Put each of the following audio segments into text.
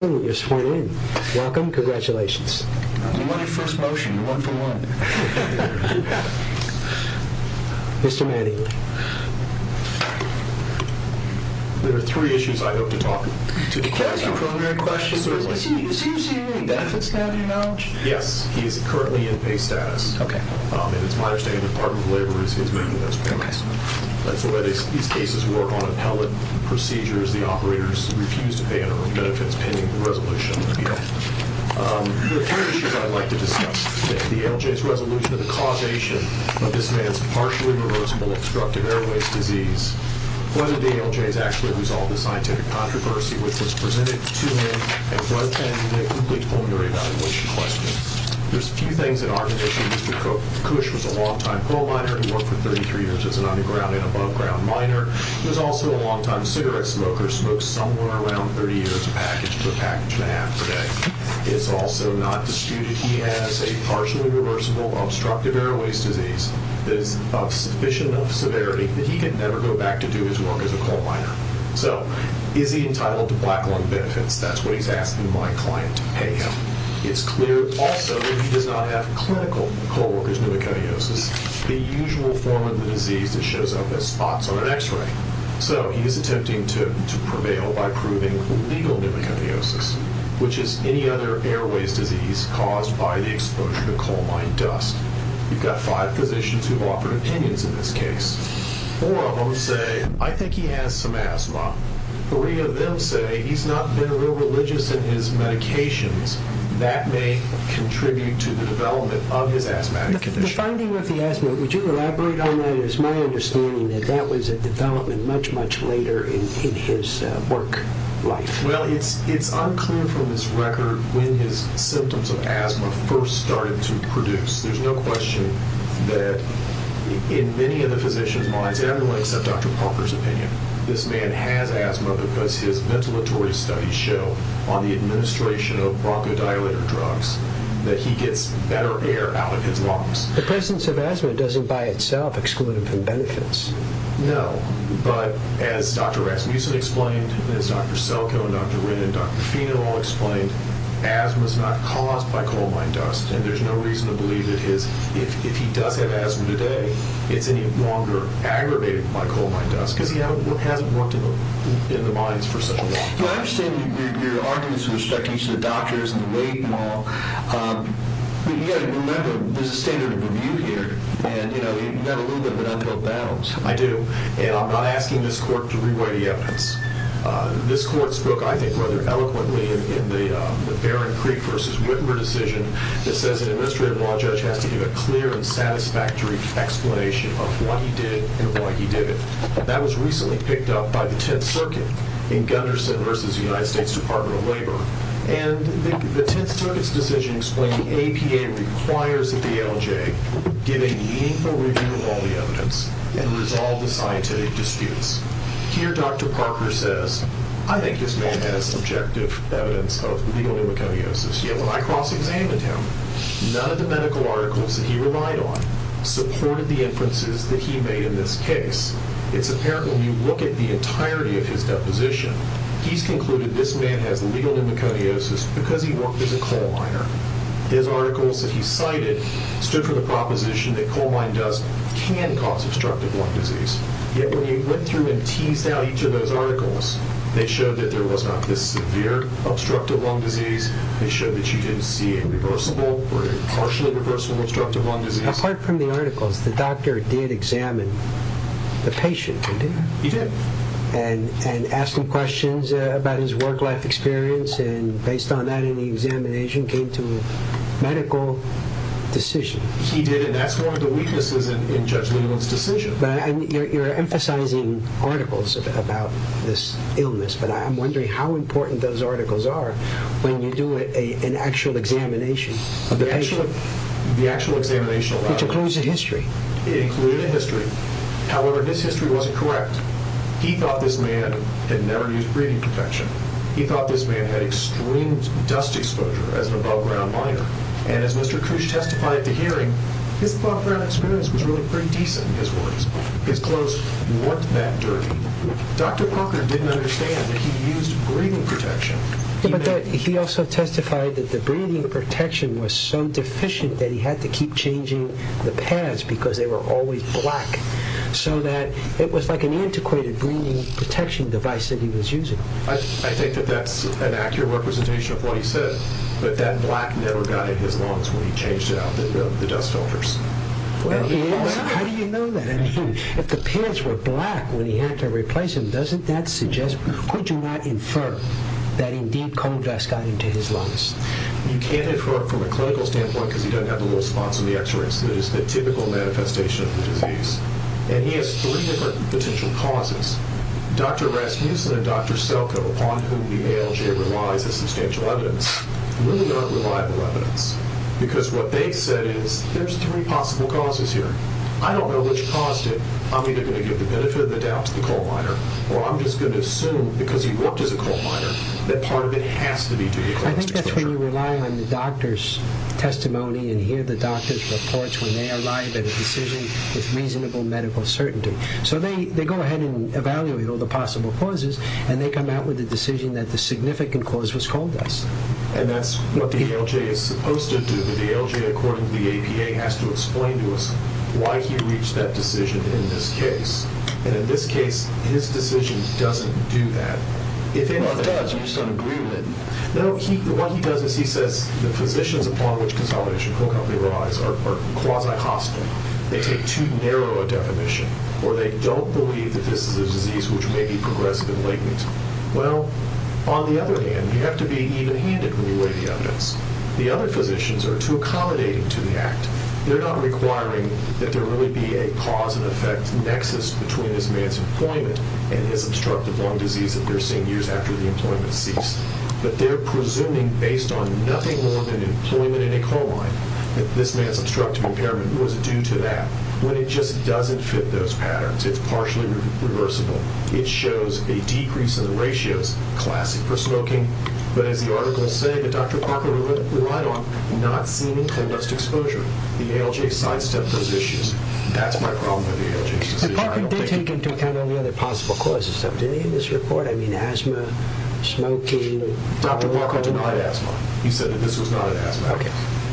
Welcome, congratulations. I'm running first motion, one for one. Mr. Mattingly. There are three issues I hope to talk to the court about. Can I ask you a preliminary question? Certainly. Is he receiving any benefits now, do you know? Yes, he is currently in pay status. Okay. And it's my understanding the Department of Labor is his main investment. Okay. That's the way these cases work on appellate procedures. The operators refuse to pay any benefits pending the resolution of the appeal. The third issue I'd like to discuss today, the ALJ's resolution of the causation of this man's partially reversible obstructive airways disease, whether the ALJ has actually resolved the scientific controversy which was presented to him at one time in a complete formulary evaluation question. There's a few things that aren't an issue. Mr. Cush was a long-time coal miner who worked for 33 years as an underground and aboveground miner. He was also a long-time cigarette smoker, smoked somewhere around 30 years a package to a package and a half a day. It's also not disputed he has a partially reversible obstructive airways disease that is of sufficient severity that he could never go back to do his work as a coal miner. So is he entitled to black lung benefits? That's what he's asking my client to pay him. It's clear also that he does not have clinical coal worker's pneumoconiosis, the usual form of the disease that shows up as spots on an x-ray. So he is attempting to prevail by proving legal pneumoconiosis, which is any other airways disease caused by the exposure to coal mine dust. We've got five physicians who've offered opinions in this case. Four of them say, I think he has some asthma. Three of them say he's not been real religious in his medications. That may contribute to the development of his asthmatic condition. The finding of the asthma, would you elaborate on that? It's my understanding that that was a development much, much later in his work life. Well, it's unclear from this record when his symptoms of asthma first started to produce. There's no question that in many of the physicians' minds, everyone except Dr. Parker's opinion, this man has asthma because his ventilatory studies show, on the administration of bronchodilator drugs, that he gets better air out of his lungs. The presence of asthma doesn't by itself exclude him from benefits. No, but as Dr. Rasmussen explained, as Dr. Selkow and Dr. Rinn and Dr. Feener all explained, asthma's not caused by coal mine dust, and there's no reason to believe that if he does have asthma today, it's any longer aggravated by coal mine dust, because he hasn't worked in the mines for such a long time. I understand your arguments with respect to each of the doctors and the waiting hall. You've got to remember, there's a standard of review here, and you've got a little bit of an uphill battle. I do, and I'm not asking this court to re-weigh the evidence. This court's book, I think rather eloquently, in the Barron Creek v. Whitmer decision, it says an administrative law judge has to give a clear and satisfactory explanation of what he did and why he did it. That was recently picked up by the Tenth Circuit in Gunderson v. United States Department of Labor, and the Tenth Circuit's decision explained the APA requires that the ALJ give a meaningful review of all the evidence and resolve the scientific disputes. Here, Dr. Parker says, I think this man has subjective evidence of legal pneumoconiosis, yet when I cross-examined him, none of the medical articles that he relied on supported the inferences that he made in this case. It's apparent when you look at the entirety of his deposition, he's concluded this man has legal pneumoconiosis because he worked as a coal miner. His articles that he cited stood for the proposition that coal mine dust can cause obstructive lung disease, yet when he went through and teased out each of those articles, they showed that there was not this severe obstructive lung disease. They showed that you didn't see a reversible or a partially reversible obstructive lung disease. Apart from the articles, the doctor did examine the patient, didn't he? He did. And asked him questions about his work-life experience, and based on that, in the examination, came to a medical decision. He did, and that's one of the weaknesses in Judge Leland's decision. You're emphasizing articles about this illness, but I'm wondering how important those articles are when you do an actual examination of the patient. The actual examination of the patient. Which includes a history. It included a history. However, his history wasn't correct. He thought this man had never used breathing protection. He thought this man had extreme dust exposure as an above-ground miner, and as Mr. Cooch testified at the hearing, his above-ground experience was really pretty decent. His clothes weren't that dirty. Dr. Parker didn't understand that he used breathing protection. He also testified that the breathing protection was so deficient that he had to keep changing the pads because they were always black, so that it was like an antiquated breathing protection device that he was using. I think that that's an accurate representation of what he said, but that black never got into his lungs when he changed out the dust filters. How do you know that? If the pads were black when he had to replace them, doesn't that suggest, could you not infer that indeed coal dust got into his lungs? You can't infer it from a clinical standpoint because he doesn't have the little spots in the x-rays. That is the typical manifestation of the disease. And he has three different potential causes. Dr. Rasmussen and Dr. Selko, upon whom the ALJ relies as substantial evidence, really aren't reliable evidence because what they've said is there's three possible causes here. I don't know which caused it. I'm either going to give the benefit of the doubt to the coal miner, or I'm just going to assume because he worked as a coal miner that part of it has to be due to coal dust exposure. I think that's when you rely on the doctor's testimony and hear the doctor's reports when they arrive at a decision with reasonable medical certainty. So they go ahead and evaluate all the possible causes, and they come out with the decision that the significant cause was coal dust. And that's what the ALJ is supposed to do. The ALJ, according to the APA, has to explain to us why he reached that decision in this case. And in this case, his decision doesn't do that. Well, it does. You just don't agree with it. No, what he does is he says the positions upon which consolidation and coal company relies are quasi-hostile. They take too narrow a definition. Or they don't believe that this is a disease which may be progressive and latent. Well, on the other hand, you have to be even-handed when you weigh the evidence. The other physicians are too accommodating to the act. They're not requiring that there really be a cause and effect nexus between this man's employment and his obstructive lung disease that they're seeing years after the employment ceased. But they're presuming, based on nothing more than employment in a coal mine, that this man's obstructive impairment was due to that. When it just doesn't fit those patterns, it's partially reversible. It shows a decrease in the ratios, classic for smoking. But as the articles say that Dr. Parker relied on not-seeming coal dust exposure, the ALJ sidestepped those issues. That's my problem with the ALJ. But Parker did take into account all the other possible causes. Did he in this report? I mean, asthma, smoking? Dr. Parker denied asthma. He said that this was not an asthma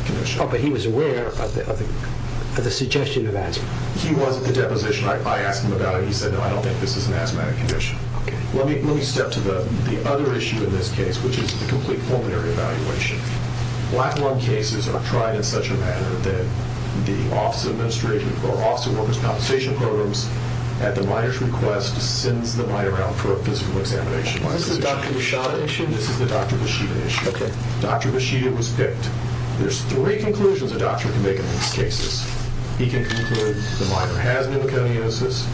condition. But he was aware of the suggestion of asthma. He was at the deposition. I asked him about it. He said, no, I don't think this is an asthmatic condition. Let me step to the other issue in this case, which is the complete pulmonary evaluation. Black lung cases are tried in such a manner that the Office of Workers' Compensation Programs, at the miner's request, sends the miner out for a physical examination. Is this the Dr. Bashida issue? This is the Dr. Bashida issue. Dr. Bashida was picked. There's three conclusions a doctor can make on these cases. He can conclude the miner has pneumoconiosis,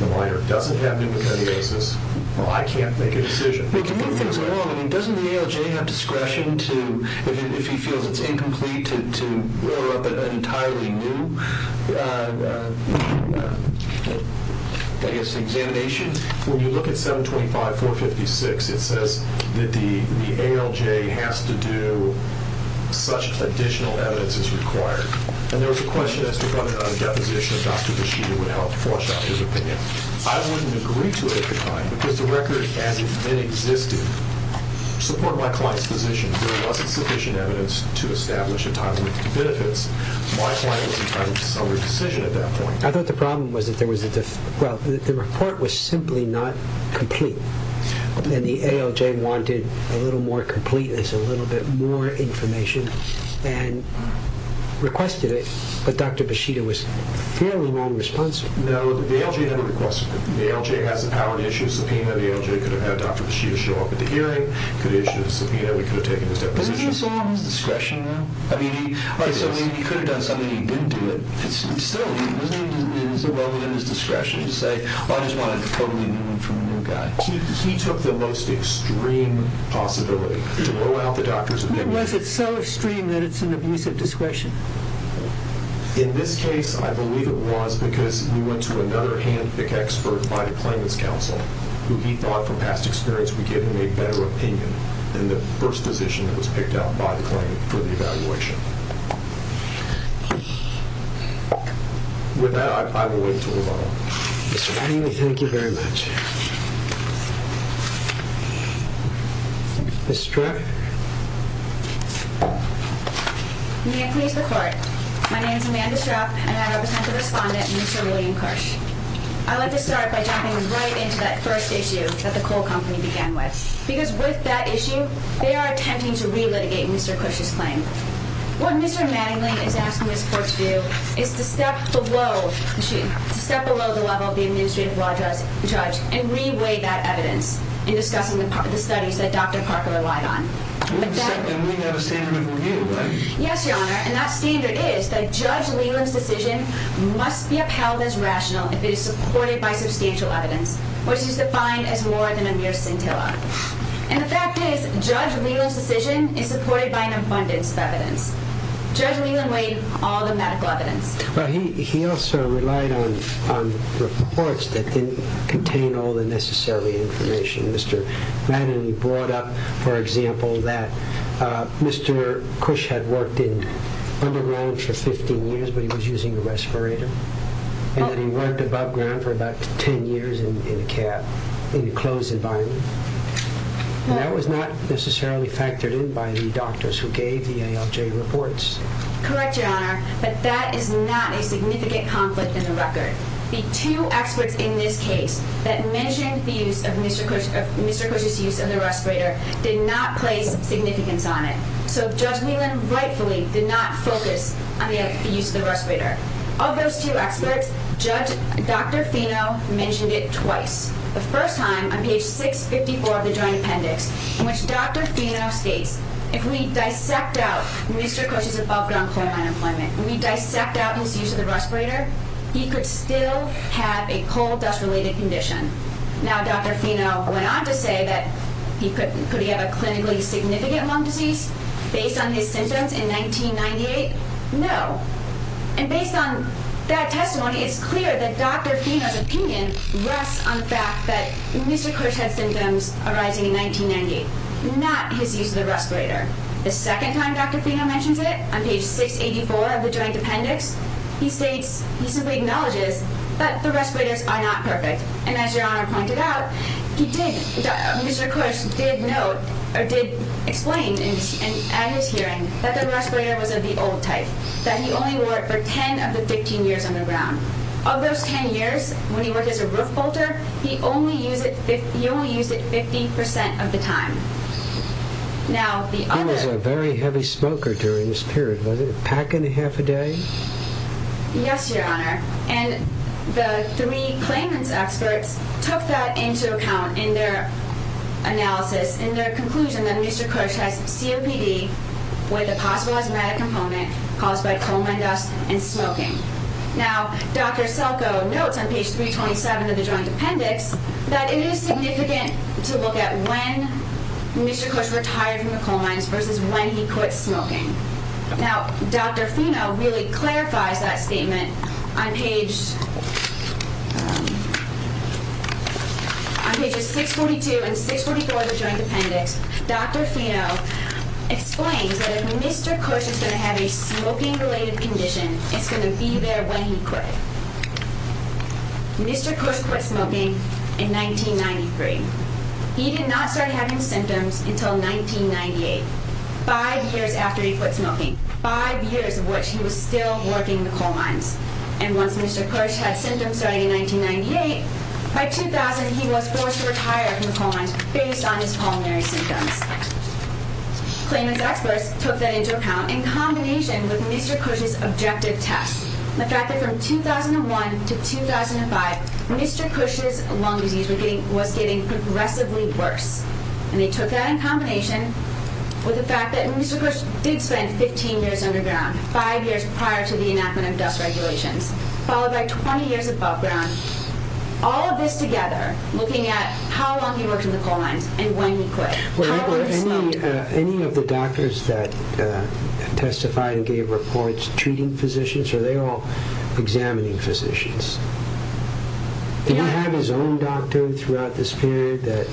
the miner doesn't have pneumoconiosis. Well, I can't make a decision. Wait, can you move things along? I mean, doesn't the ALJ have discretion to, if he feels it's incomplete, to roll up an entirely new, I guess, examination? When you look at 725.456, it says that the ALJ has to do such additional evidence as required. And there was a question as to whether a deposition of Dr. Bashida would help flush out his opinion. I wouldn't agree to it at the time, because the record hasn't been existed. Support my client's position. There wasn't sufficient evidence to establish a time limit for benefits. My client was entitled to a summary decision at that point. I thought the problem was that the report was simply not complete, and the ALJ wanted a little more completeness, a little bit more information, and requested it, but Dr. Bashida was fairly nonresponsive. No, the ALJ never requested it. The ALJ has the power to issue a subpoena. The ALJ could have had Dr. Bashida show up at the hearing, could have issued a subpoena. We could have taken his deposition. Isn't this all his discretion, though? He could have done something, and he didn't do it. It's still his discretion to say, I just want a totally new one from a new guy. He took the most extreme possibility to blow out the doctor's opinion. Why was it so extreme that it's an abusive discretion? In this case, I believe it was because we went to another handpick expert by the claimants' counsel who he thought from past experience would give him a better opinion than the first position that was picked out by the claimant for the evaluation. With that, I will wait to move on. Thank you very much. Ms. Strach? Good afternoon to the court. My name is Amanda Strach, and I represent the respondent, Mr. William Kirsch. I'd like to start by jumping right into that first issue that the coal company began with because with that issue, they are attempting to re-litigate Mr. Kirsch's claim. What Mr. Manningly is asking this court to do is to step below the level of the administrative law judge and re-weigh that evidence in discussing the studies that Dr. Parker relied on. And we have a standard of review, right? Yes, Your Honor, and that standard is that Judge Leland's decision must be upheld as rational if it is supported by substantial evidence, which is defined as more than a mere scintilla. And the fact is, Judge Leland's decision is supported by an abundance of evidence. Judge Leland weighed all the medical evidence. He also relied on reports that didn't contain all the necessary information. Mr. Manningly brought up, for example, that Mr. Kirsch had worked in underground for 15 years, but he was using a respirator, and that he worked above ground for about 10 years in a closed environment. That was not necessarily factored in by the doctors who gave the ALJ reports. Correct, Your Honor, but that is not a significant conflict in the record. The two experts in this case that mentioned Mr. Kirsch's use of the respirator did not place significance on it. So Judge Leland rightfully did not focus on the use of the respirator. Of those two experts, Dr. Fino mentioned it twice. The first time, on page 654 of the Joint Appendix, in which Dr. Fino states, if we dissect out Mr. Kirsch's above ground employment, if we dissect out his use of the respirator, he could still have a coal dust-related condition. Now Dr. Fino went on to say that could he have a clinically significant lung disease based on his symptoms in 1998? No. And based on that testimony, it's clear that Dr. Fino's opinion rests on the fact that Mr. Kirsch had symptoms arising in 1998, not his use of the respirator. The second time Dr. Fino mentions it, on page 684 of the Joint Appendix, he states, he simply acknowledges that the respirators are not perfect. And as Your Honor pointed out, Mr. Kirsch did explain at his hearing that the respirator was of the old type, that he only wore it for 10 of the 15 years on the ground. Of those 10 years, when he worked as a roof bolter, he only used it 50% of the time. He was a very heavy smoker during this period. Was it a pack and a half a day? Yes, Your Honor. And the three claimants' experts took that into account in their analysis, in their conclusion that Mr. Kirsch has COPD with a possible asthmatic component caused by coal mine dust and smoking. Now Dr. Selko notes on page 327 of the Joint Appendix that it is significant to look at when Mr. Kirsch retired from the coal mines versus when he quit smoking. Now Dr. Fino really clarifies that statement on pages 642 and 644 of the Joint Appendix. Dr. Fino explains that if Mr. Kirsch is going to have a smoking-related condition, it's going to be there when he quit. Mr. Kirsch quit smoking in 1993. He did not start having symptoms until 1998, five years after he quit smoking, five years of which he was still working the coal mines. And once Mr. Kirsch had symptoms starting in 1998, by 2000 he was forced to retire from the coal mines based on his pulmonary symptoms. Claimants' experts took that into account in combination with Mr. Kirsch's objective test. The fact that from 2001 to 2005, Mr. Kirsch's lung disease was getting progressively worse. And they took that in combination with the fact that Mr. Kirsch did spend 15 years underground, five years prior to the enactment of dust regulations, followed by 20 years above ground. All of this together, looking at how long he worked in the coal mines and when he quit. Any of the doctors that testified and gave reports treating physicians, are they all examining physicians? Did he have his own doctor throughout this period that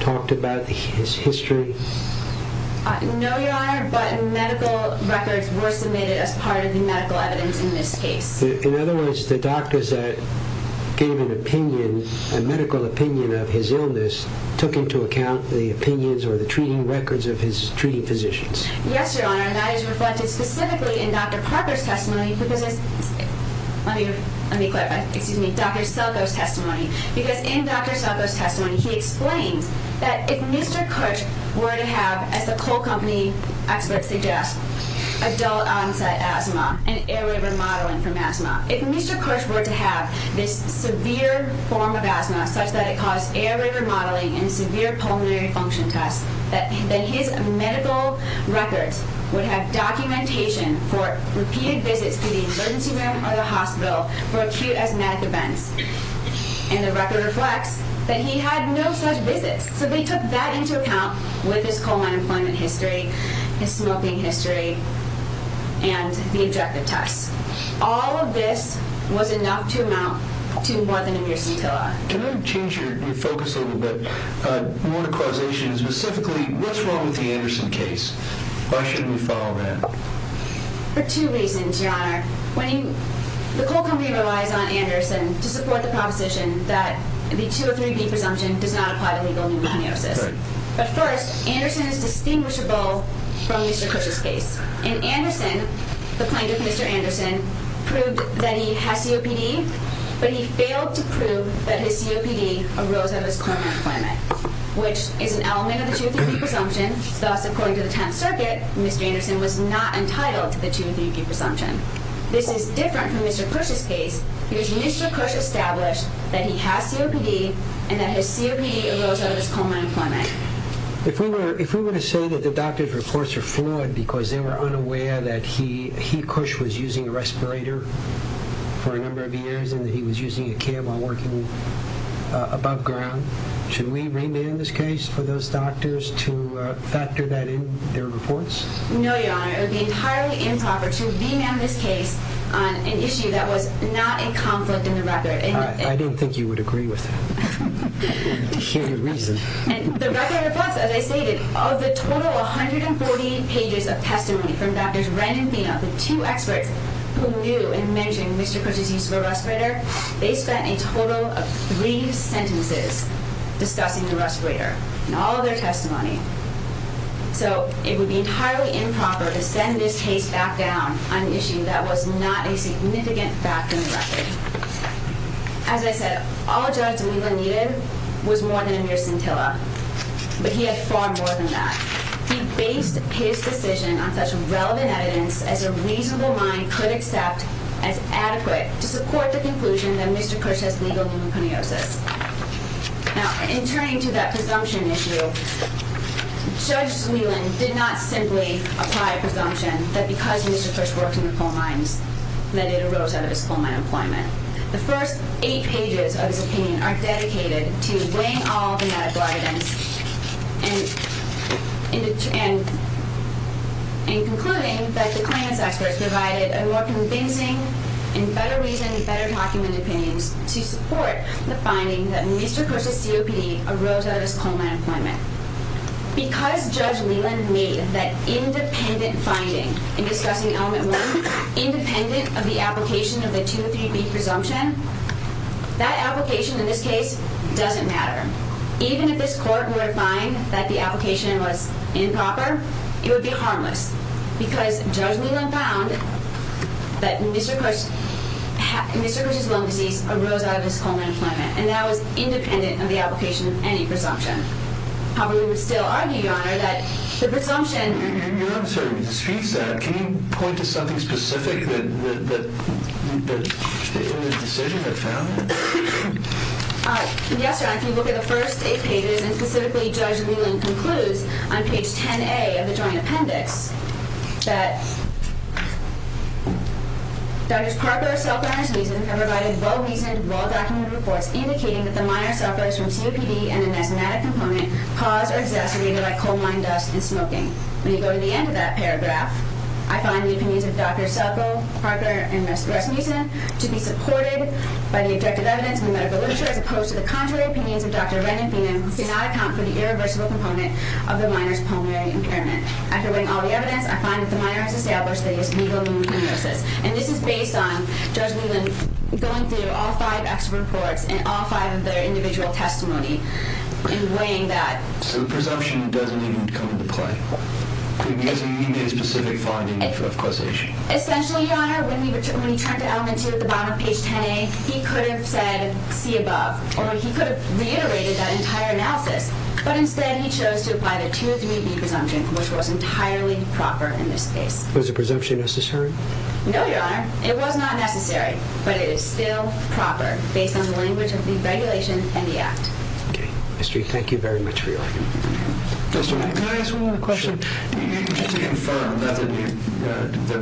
talked about his history? No, Your Honor, but medical records were submitted as part of the medical evidence in this case. In other words, the doctors that gave an opinion, a medical opinion of his illness, took into account the opinions or the treating records of his treating physicians. Yes, Your Honor, and that is reflected specifically in Dr. Parker's testimony. Let me clarify, excuse me, Dr. Selko's testimony. Because in Dr. Selko's testimony, he explains that if Mr. Kirsch were to have, as the coal company experts suggest, adult onset asthma and airway remodeling from asthma. If Mr. Kirsch were to have this severe form of asthma, such that it caused airway remodeling and severe pulmonary function tests, that his medical records would have documentation for repeated visits to the emergency room or the hospital for acute asthmatic events. And the record reflects that he had no such visits. So they took that into account with his coal mine employment history, his smoking history, and the objective tests. All of this was enough to amount to more than a mere scintilla. Can I change your focus a little bit? More to causation, specifically, what's wrong with the Anderson case? Why shouldn't we follow that? For two reasons, Your Honor. The coal company relies on Anderson to support the proposition that the 203B presumption does not apply to legal pneumokinosis. But first, Anderson is distinguishable from Mr. Kirsch's case. In Anderson, the plaintiff, Mr. Anderson, proved that he has COPD. But he failed to prove that his COPD arose out of his coal mine employment, which is an element of the 203B presumption. Thus, according to the Tenth Circuit, Mr. Anderson was not entitled to the 203B presumption. This is different from Mr. Kirsch's case because Mr. Kirsch established that he has COPD and that his COPD arose out of his coal mine employment. If we were to say that the doctor's reports are fluid because they were unaware that he, Kirsch, was using a respirator for a number of years and that he was using a cab while working above ground, should we remand this case for those doctors to factor that in their reports? No, Your Honor. It would be entirely improper to remand this case on an issue that was not a conflict in the record. I didn't think you would agree with that. To hear your reason. And the record reflects, as I stated, of the total 140 pages of testimony from Drs. Wren and Pena, the two experts who knew and mentioned Mr. Kirsch's use of a respirator, they spent a total of three sentences discussing the respirator and all of their testimony. So it would be entirely improper to send this case back down on an issue that was not a significant fact in the record. As I said, all Judge Zwielan needed was more than a mere scintilla, but he had far more than that. He based his decision on such relevant evidence as a reasonable mind could accept as adequate to support the conclusion that Mr. Kirsch has legal pneumoconiosis. Now, in turning to that presumption issue, Judge Zwielan did not simply apply a presumption that because Mr. Kirsch worked in the coal mines, that it arose out of his coal mine employment. The first eight pages of his opinion are dedicated to weighing all the medical evidence and concluding that the client's experts provided a more convincing and better reasoned, better documented opinions to support the finding that Mr. Kirsch's COPD arose out of his coal mine employment. Because Judge Zwielan made that independent finding in discussing element one independent of the application of the 203B presumption, that application in this case doesn't matter. Even if this court were to find that the application was improper, it would be harmless. Because Judge Zwielan found that Mr. Kirsch's lung disease arose out of his coal mine employment, and that was independent of the application of any presumption. However, we would still argue, Your Honor, that the presumption... Your Honor, I'm sorry, but to speak to that, can you point to something specific that the decision had found? Yes, Your Honor, if you look at the first eight pages, and specifically Judge Zwielan concludes on page 10A of the joint appendix, that Drs. Parker, Selko, and Rasmussen have provided well-reasoned, well-documented reports indicating that the minor sufferers from COPD and an asthmatic component caused or exacerbated by coal mine dust and smoking. When you go to the end of that paragraph, I find the opinions of Drs. Selko, Parker, and Rasmussen to be supported by the objective evidence in the medical literature, as opposed to the contrary opinions of Dr. Ren and Finan, who do not account for the irreversible component of the minor's pulmonary impairment. After reading all the evidence, I find that the minor has established that he has legal limb hemorrhosis. And this is based on Judge Zwielan going through all five extra reports and all five of their individual testimony and weighing that. So the presumption doesn't even come into play. You mean his specific finding of causation? Essentially, Your Honor, when he turned to element 2 at the bottom of page 10A, he could have said, see above, or he could have reiterated that entire analysis. But instead, he chose to apply the 2.3b presumption, which was entirely proper in this case. Was the presumption necessary? No, Your Honor. It was not necessary. But it is still proper, based on the language of the regulation and the act. Okay. Ms. Drieck, thank you very much for your argument. Mr. Manning, can I ask one more question? Sure. Just to confirm, was there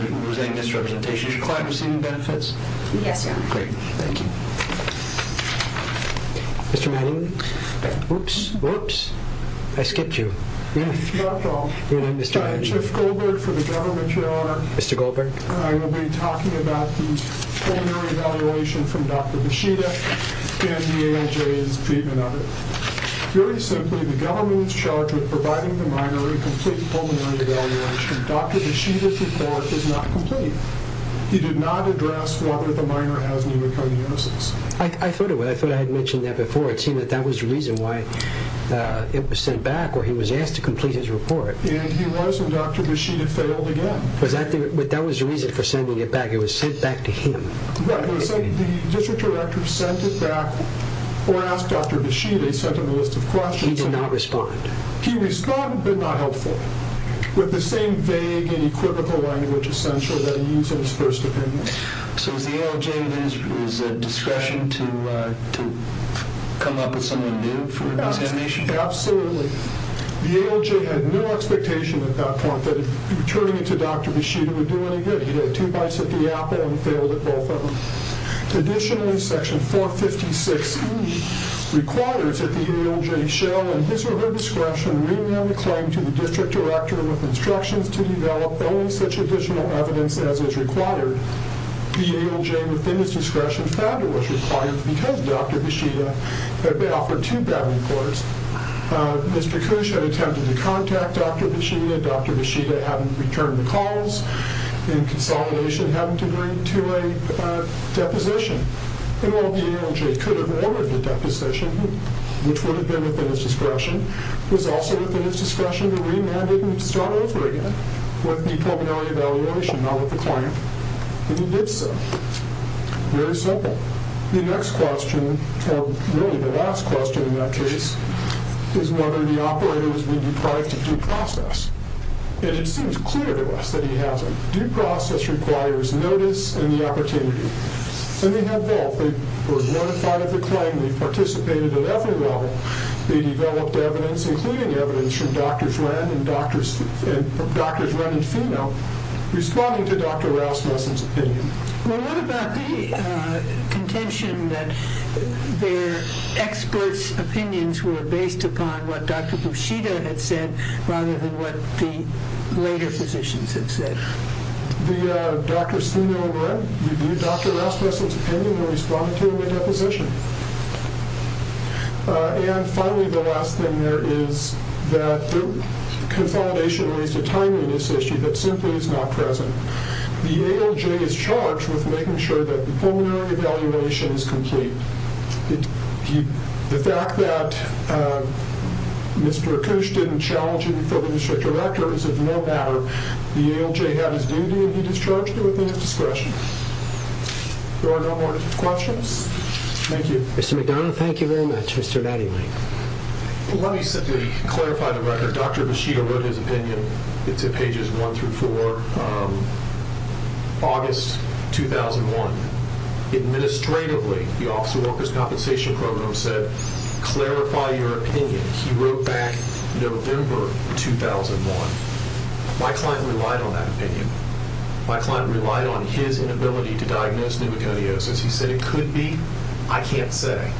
any misrepresentation of your client receiving benefits? Yes, Your Honor. Great. Thank you. Mr. Manning, whoops, whoops, I skipped you. Dr. Hall, I'm Jeff Goldberg for the Government, Your Honor. Mr. Goldberg. I will be talking about the pulmonary evaluation from Dr. Bushida and the ALJ's treatment of it. Very simply, the government is charged with providing the minor a complete pulmonary evaluation. Dr. Bushida's report is not complete. He did not address whether the minor has pneumoconiosis. I thought I had mentioned that before. It seemed that that was the reason why it was sent back, or he was asked to complete his report. And he was, and Dr. Bushida failed again. But that was the reason for sending it back. It was sent back to him. The district director sent it back, or asked Dr. Bushida. He sent him a list of questions. He did not respond. He responded, but not helpfully. With the same vague and equivocal language essential that he used in his first opinion. So was the ALJ at his discretion to come up with something new for examination? Absolutely. The ALJ had no expectation at that point that turning it to Dr. Bushida would do any good. He did two bites at the apple and failed at both of them. Additionally, section 456E requires that the ALJ shall, in his or her discretion, rename the claim to the district director with instructions to develop only such additional evidence as is required. The ALJ, within his discretion, found it was required because Dr. Bushida had been offered too bad a course. Ms. Prakush had attempted to contact Dr. Bushida. Dr. Bushida hadn't returned the calls, and consolidation hadn't agreed to a deposition. And while the ALJ could have ordered the deposition, which would have been within his discretion, it was also within his discretion to remand it and start over again with the preliminary evaluation, not with the claim. And he did so. Very simple. The next question, or really the last question in that case, is whether the operator has been deprived of due process. And it seems clear to us that he hasn't. Due process requires notice and the opportunity. And they had both. They were notified of the claim. They participated at every level. They developed evidence, including evidence from Drs. Ren and Fino, responding to Dr. Rasmussen's opinion. Well, what about the contention that their experts' opinions were based upon what Dr. Bushida had said, rather than what the later physicians had said? The Drs. Fino and Ren reviewed Dr. Rasmussen's opinion and responded to him in a deposition. And finally, the last thing there is that the consolidation raised a timeliness issue that simply is not present. The ALJ is charged with making sure that the preliminary evaluation is complete. The fact that Mr. Akoosh didn't challenge him for the district director is of no matter. The ALJ had his duty and he discharged it within his discretion. There are no more questions. Thank you. Mr. McDonough, thank you very much. Mr. Latimer. Let me simply clarify the record. Dr. Bushida wrote his opinion. It's at pages 1 through 4, August 2001. Administratively, the Office of Workers' Compensation Program said, Clarify your opinion. He wrote back November 2001. My client relied on that opinion. My client relied on his inability to diagnose pneumoconiosis. He said, It could be. I can't say.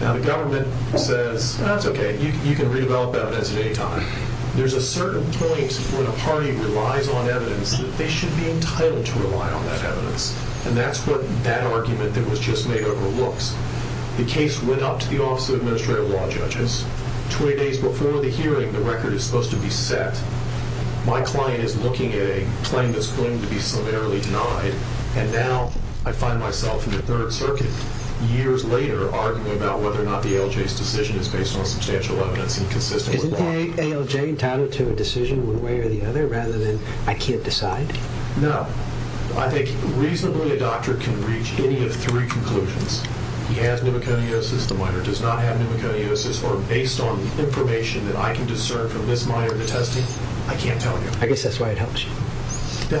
Now, the government says, That's okay. You can redevelop evidence at any time. There's a certain point when a party relies on evidence that they should be entitled to rely on that evidence. And that's what that argument that was just made overlooks. The case went up to the Office of Administrative Law Judges. Twenty days before the hearing, the record is supposed to be set. My client is looking at a claim that's going to be summarily denied. And now, I find myself in the Third Circuit, years later, arguing about whether or not the ALJ's decision is based on substantial evidence and consistent with law. Is the ALJ entitled to a decision one way or the other, rather than, I can't decide? No. I think, reasonably, a doctor can reach any of three conclusions. He has pneumoconiosis. The minor does not have pneumoconiosis. Or, based on information that I can discern from this minor in the testing, I can't tell you. I guess that's why it helps you. The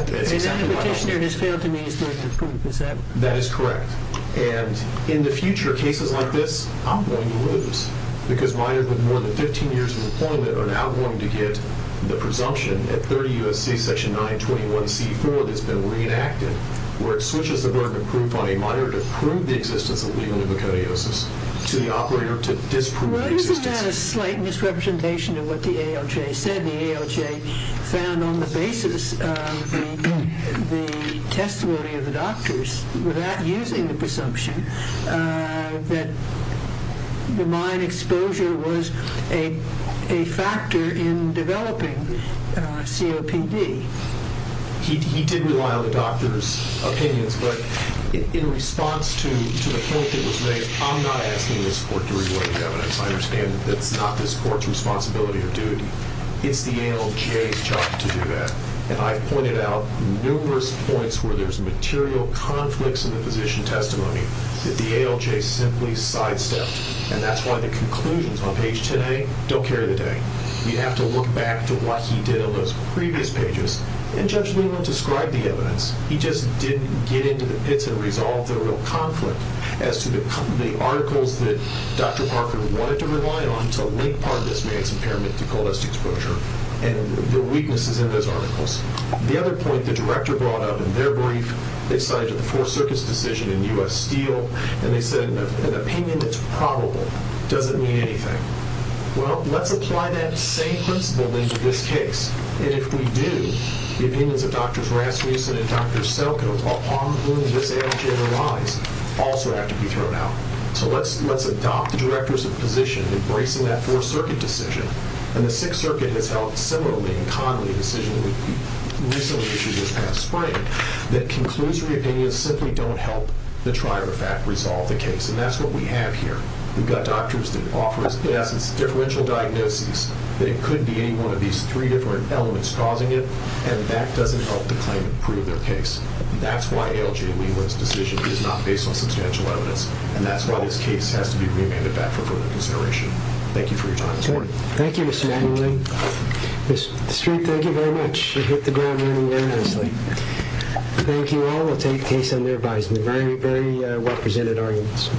petitioner has failed to meet his due at this point. Is that correct? And, in the future, cases like this, I'm going to lose. Because minors with more than 15 years of employment are now going to get the presumption at 30 U.S.C. Section 921C4 that's been reenacted, where it switches the burden of proof on a minor to prove the existence of pneumoconiosis to the operator to disprove the existence. Well, isn't that a slight misrepresentation of what the ALJ said? The ALJ found, on the basis of the testimony of the doctors, without using the presumption, that the minor's exposure was a factor in developing COPD. He did rely on the doctors' opinions, but in response to the point that was made, I'm not asking this court to rewrite the evidence. I understand that it's not this court's responsibility or duty. It's the ALJ's job to do that. And I've pointed out numerous points where there's material conflicts in the physician testimony that the ALJ simply sidestepped. And that's why the conclusions on page 10A don't carry the day. You have to look back to what he did on those previous pages, and Judge Leland described the evidence. He just didn't get into the pits and resolve the real conflict as to the articles that Dr. Parker wanted to rely on to link part of this man's impairment to cholesterol exposure and the weaknesses in those articles. The other point the director brought up in their brief, they cited the Fourth Circuit's decision in U.S. Steel, and they said an opinion that's probable doesn't mean anything. Well, let's apply that same principle then to this case. And if we do, the opinions of Drs. Rasmussen and Dr. Selkin upon whom this ALJ relies also have to be thrown out. So let's adopt the director's position embracing that Fourth Circuit decision. And the Sixth Circuit has held similarly and commonly a decision recently issued this past spring that conclusory opinions simply don't help the trier of fact resolve the case, and that's what we have here. We've got doctors that offer us, in essence, differential diagnoses that it could be any one of these three different elements causing it, and that doesn't help the claimant prove their case. That's why ALJ Leland's decision is not based on substantial evidence, and that's why this case has to be remanded back for further consideration. Thank you for your time this morning. Thank you, Mr. Manley. Mr. Street, thank you very much. You hit the ground running very nicely. Thank you all. We'll take case under advisement. Very, very well-presented arguments.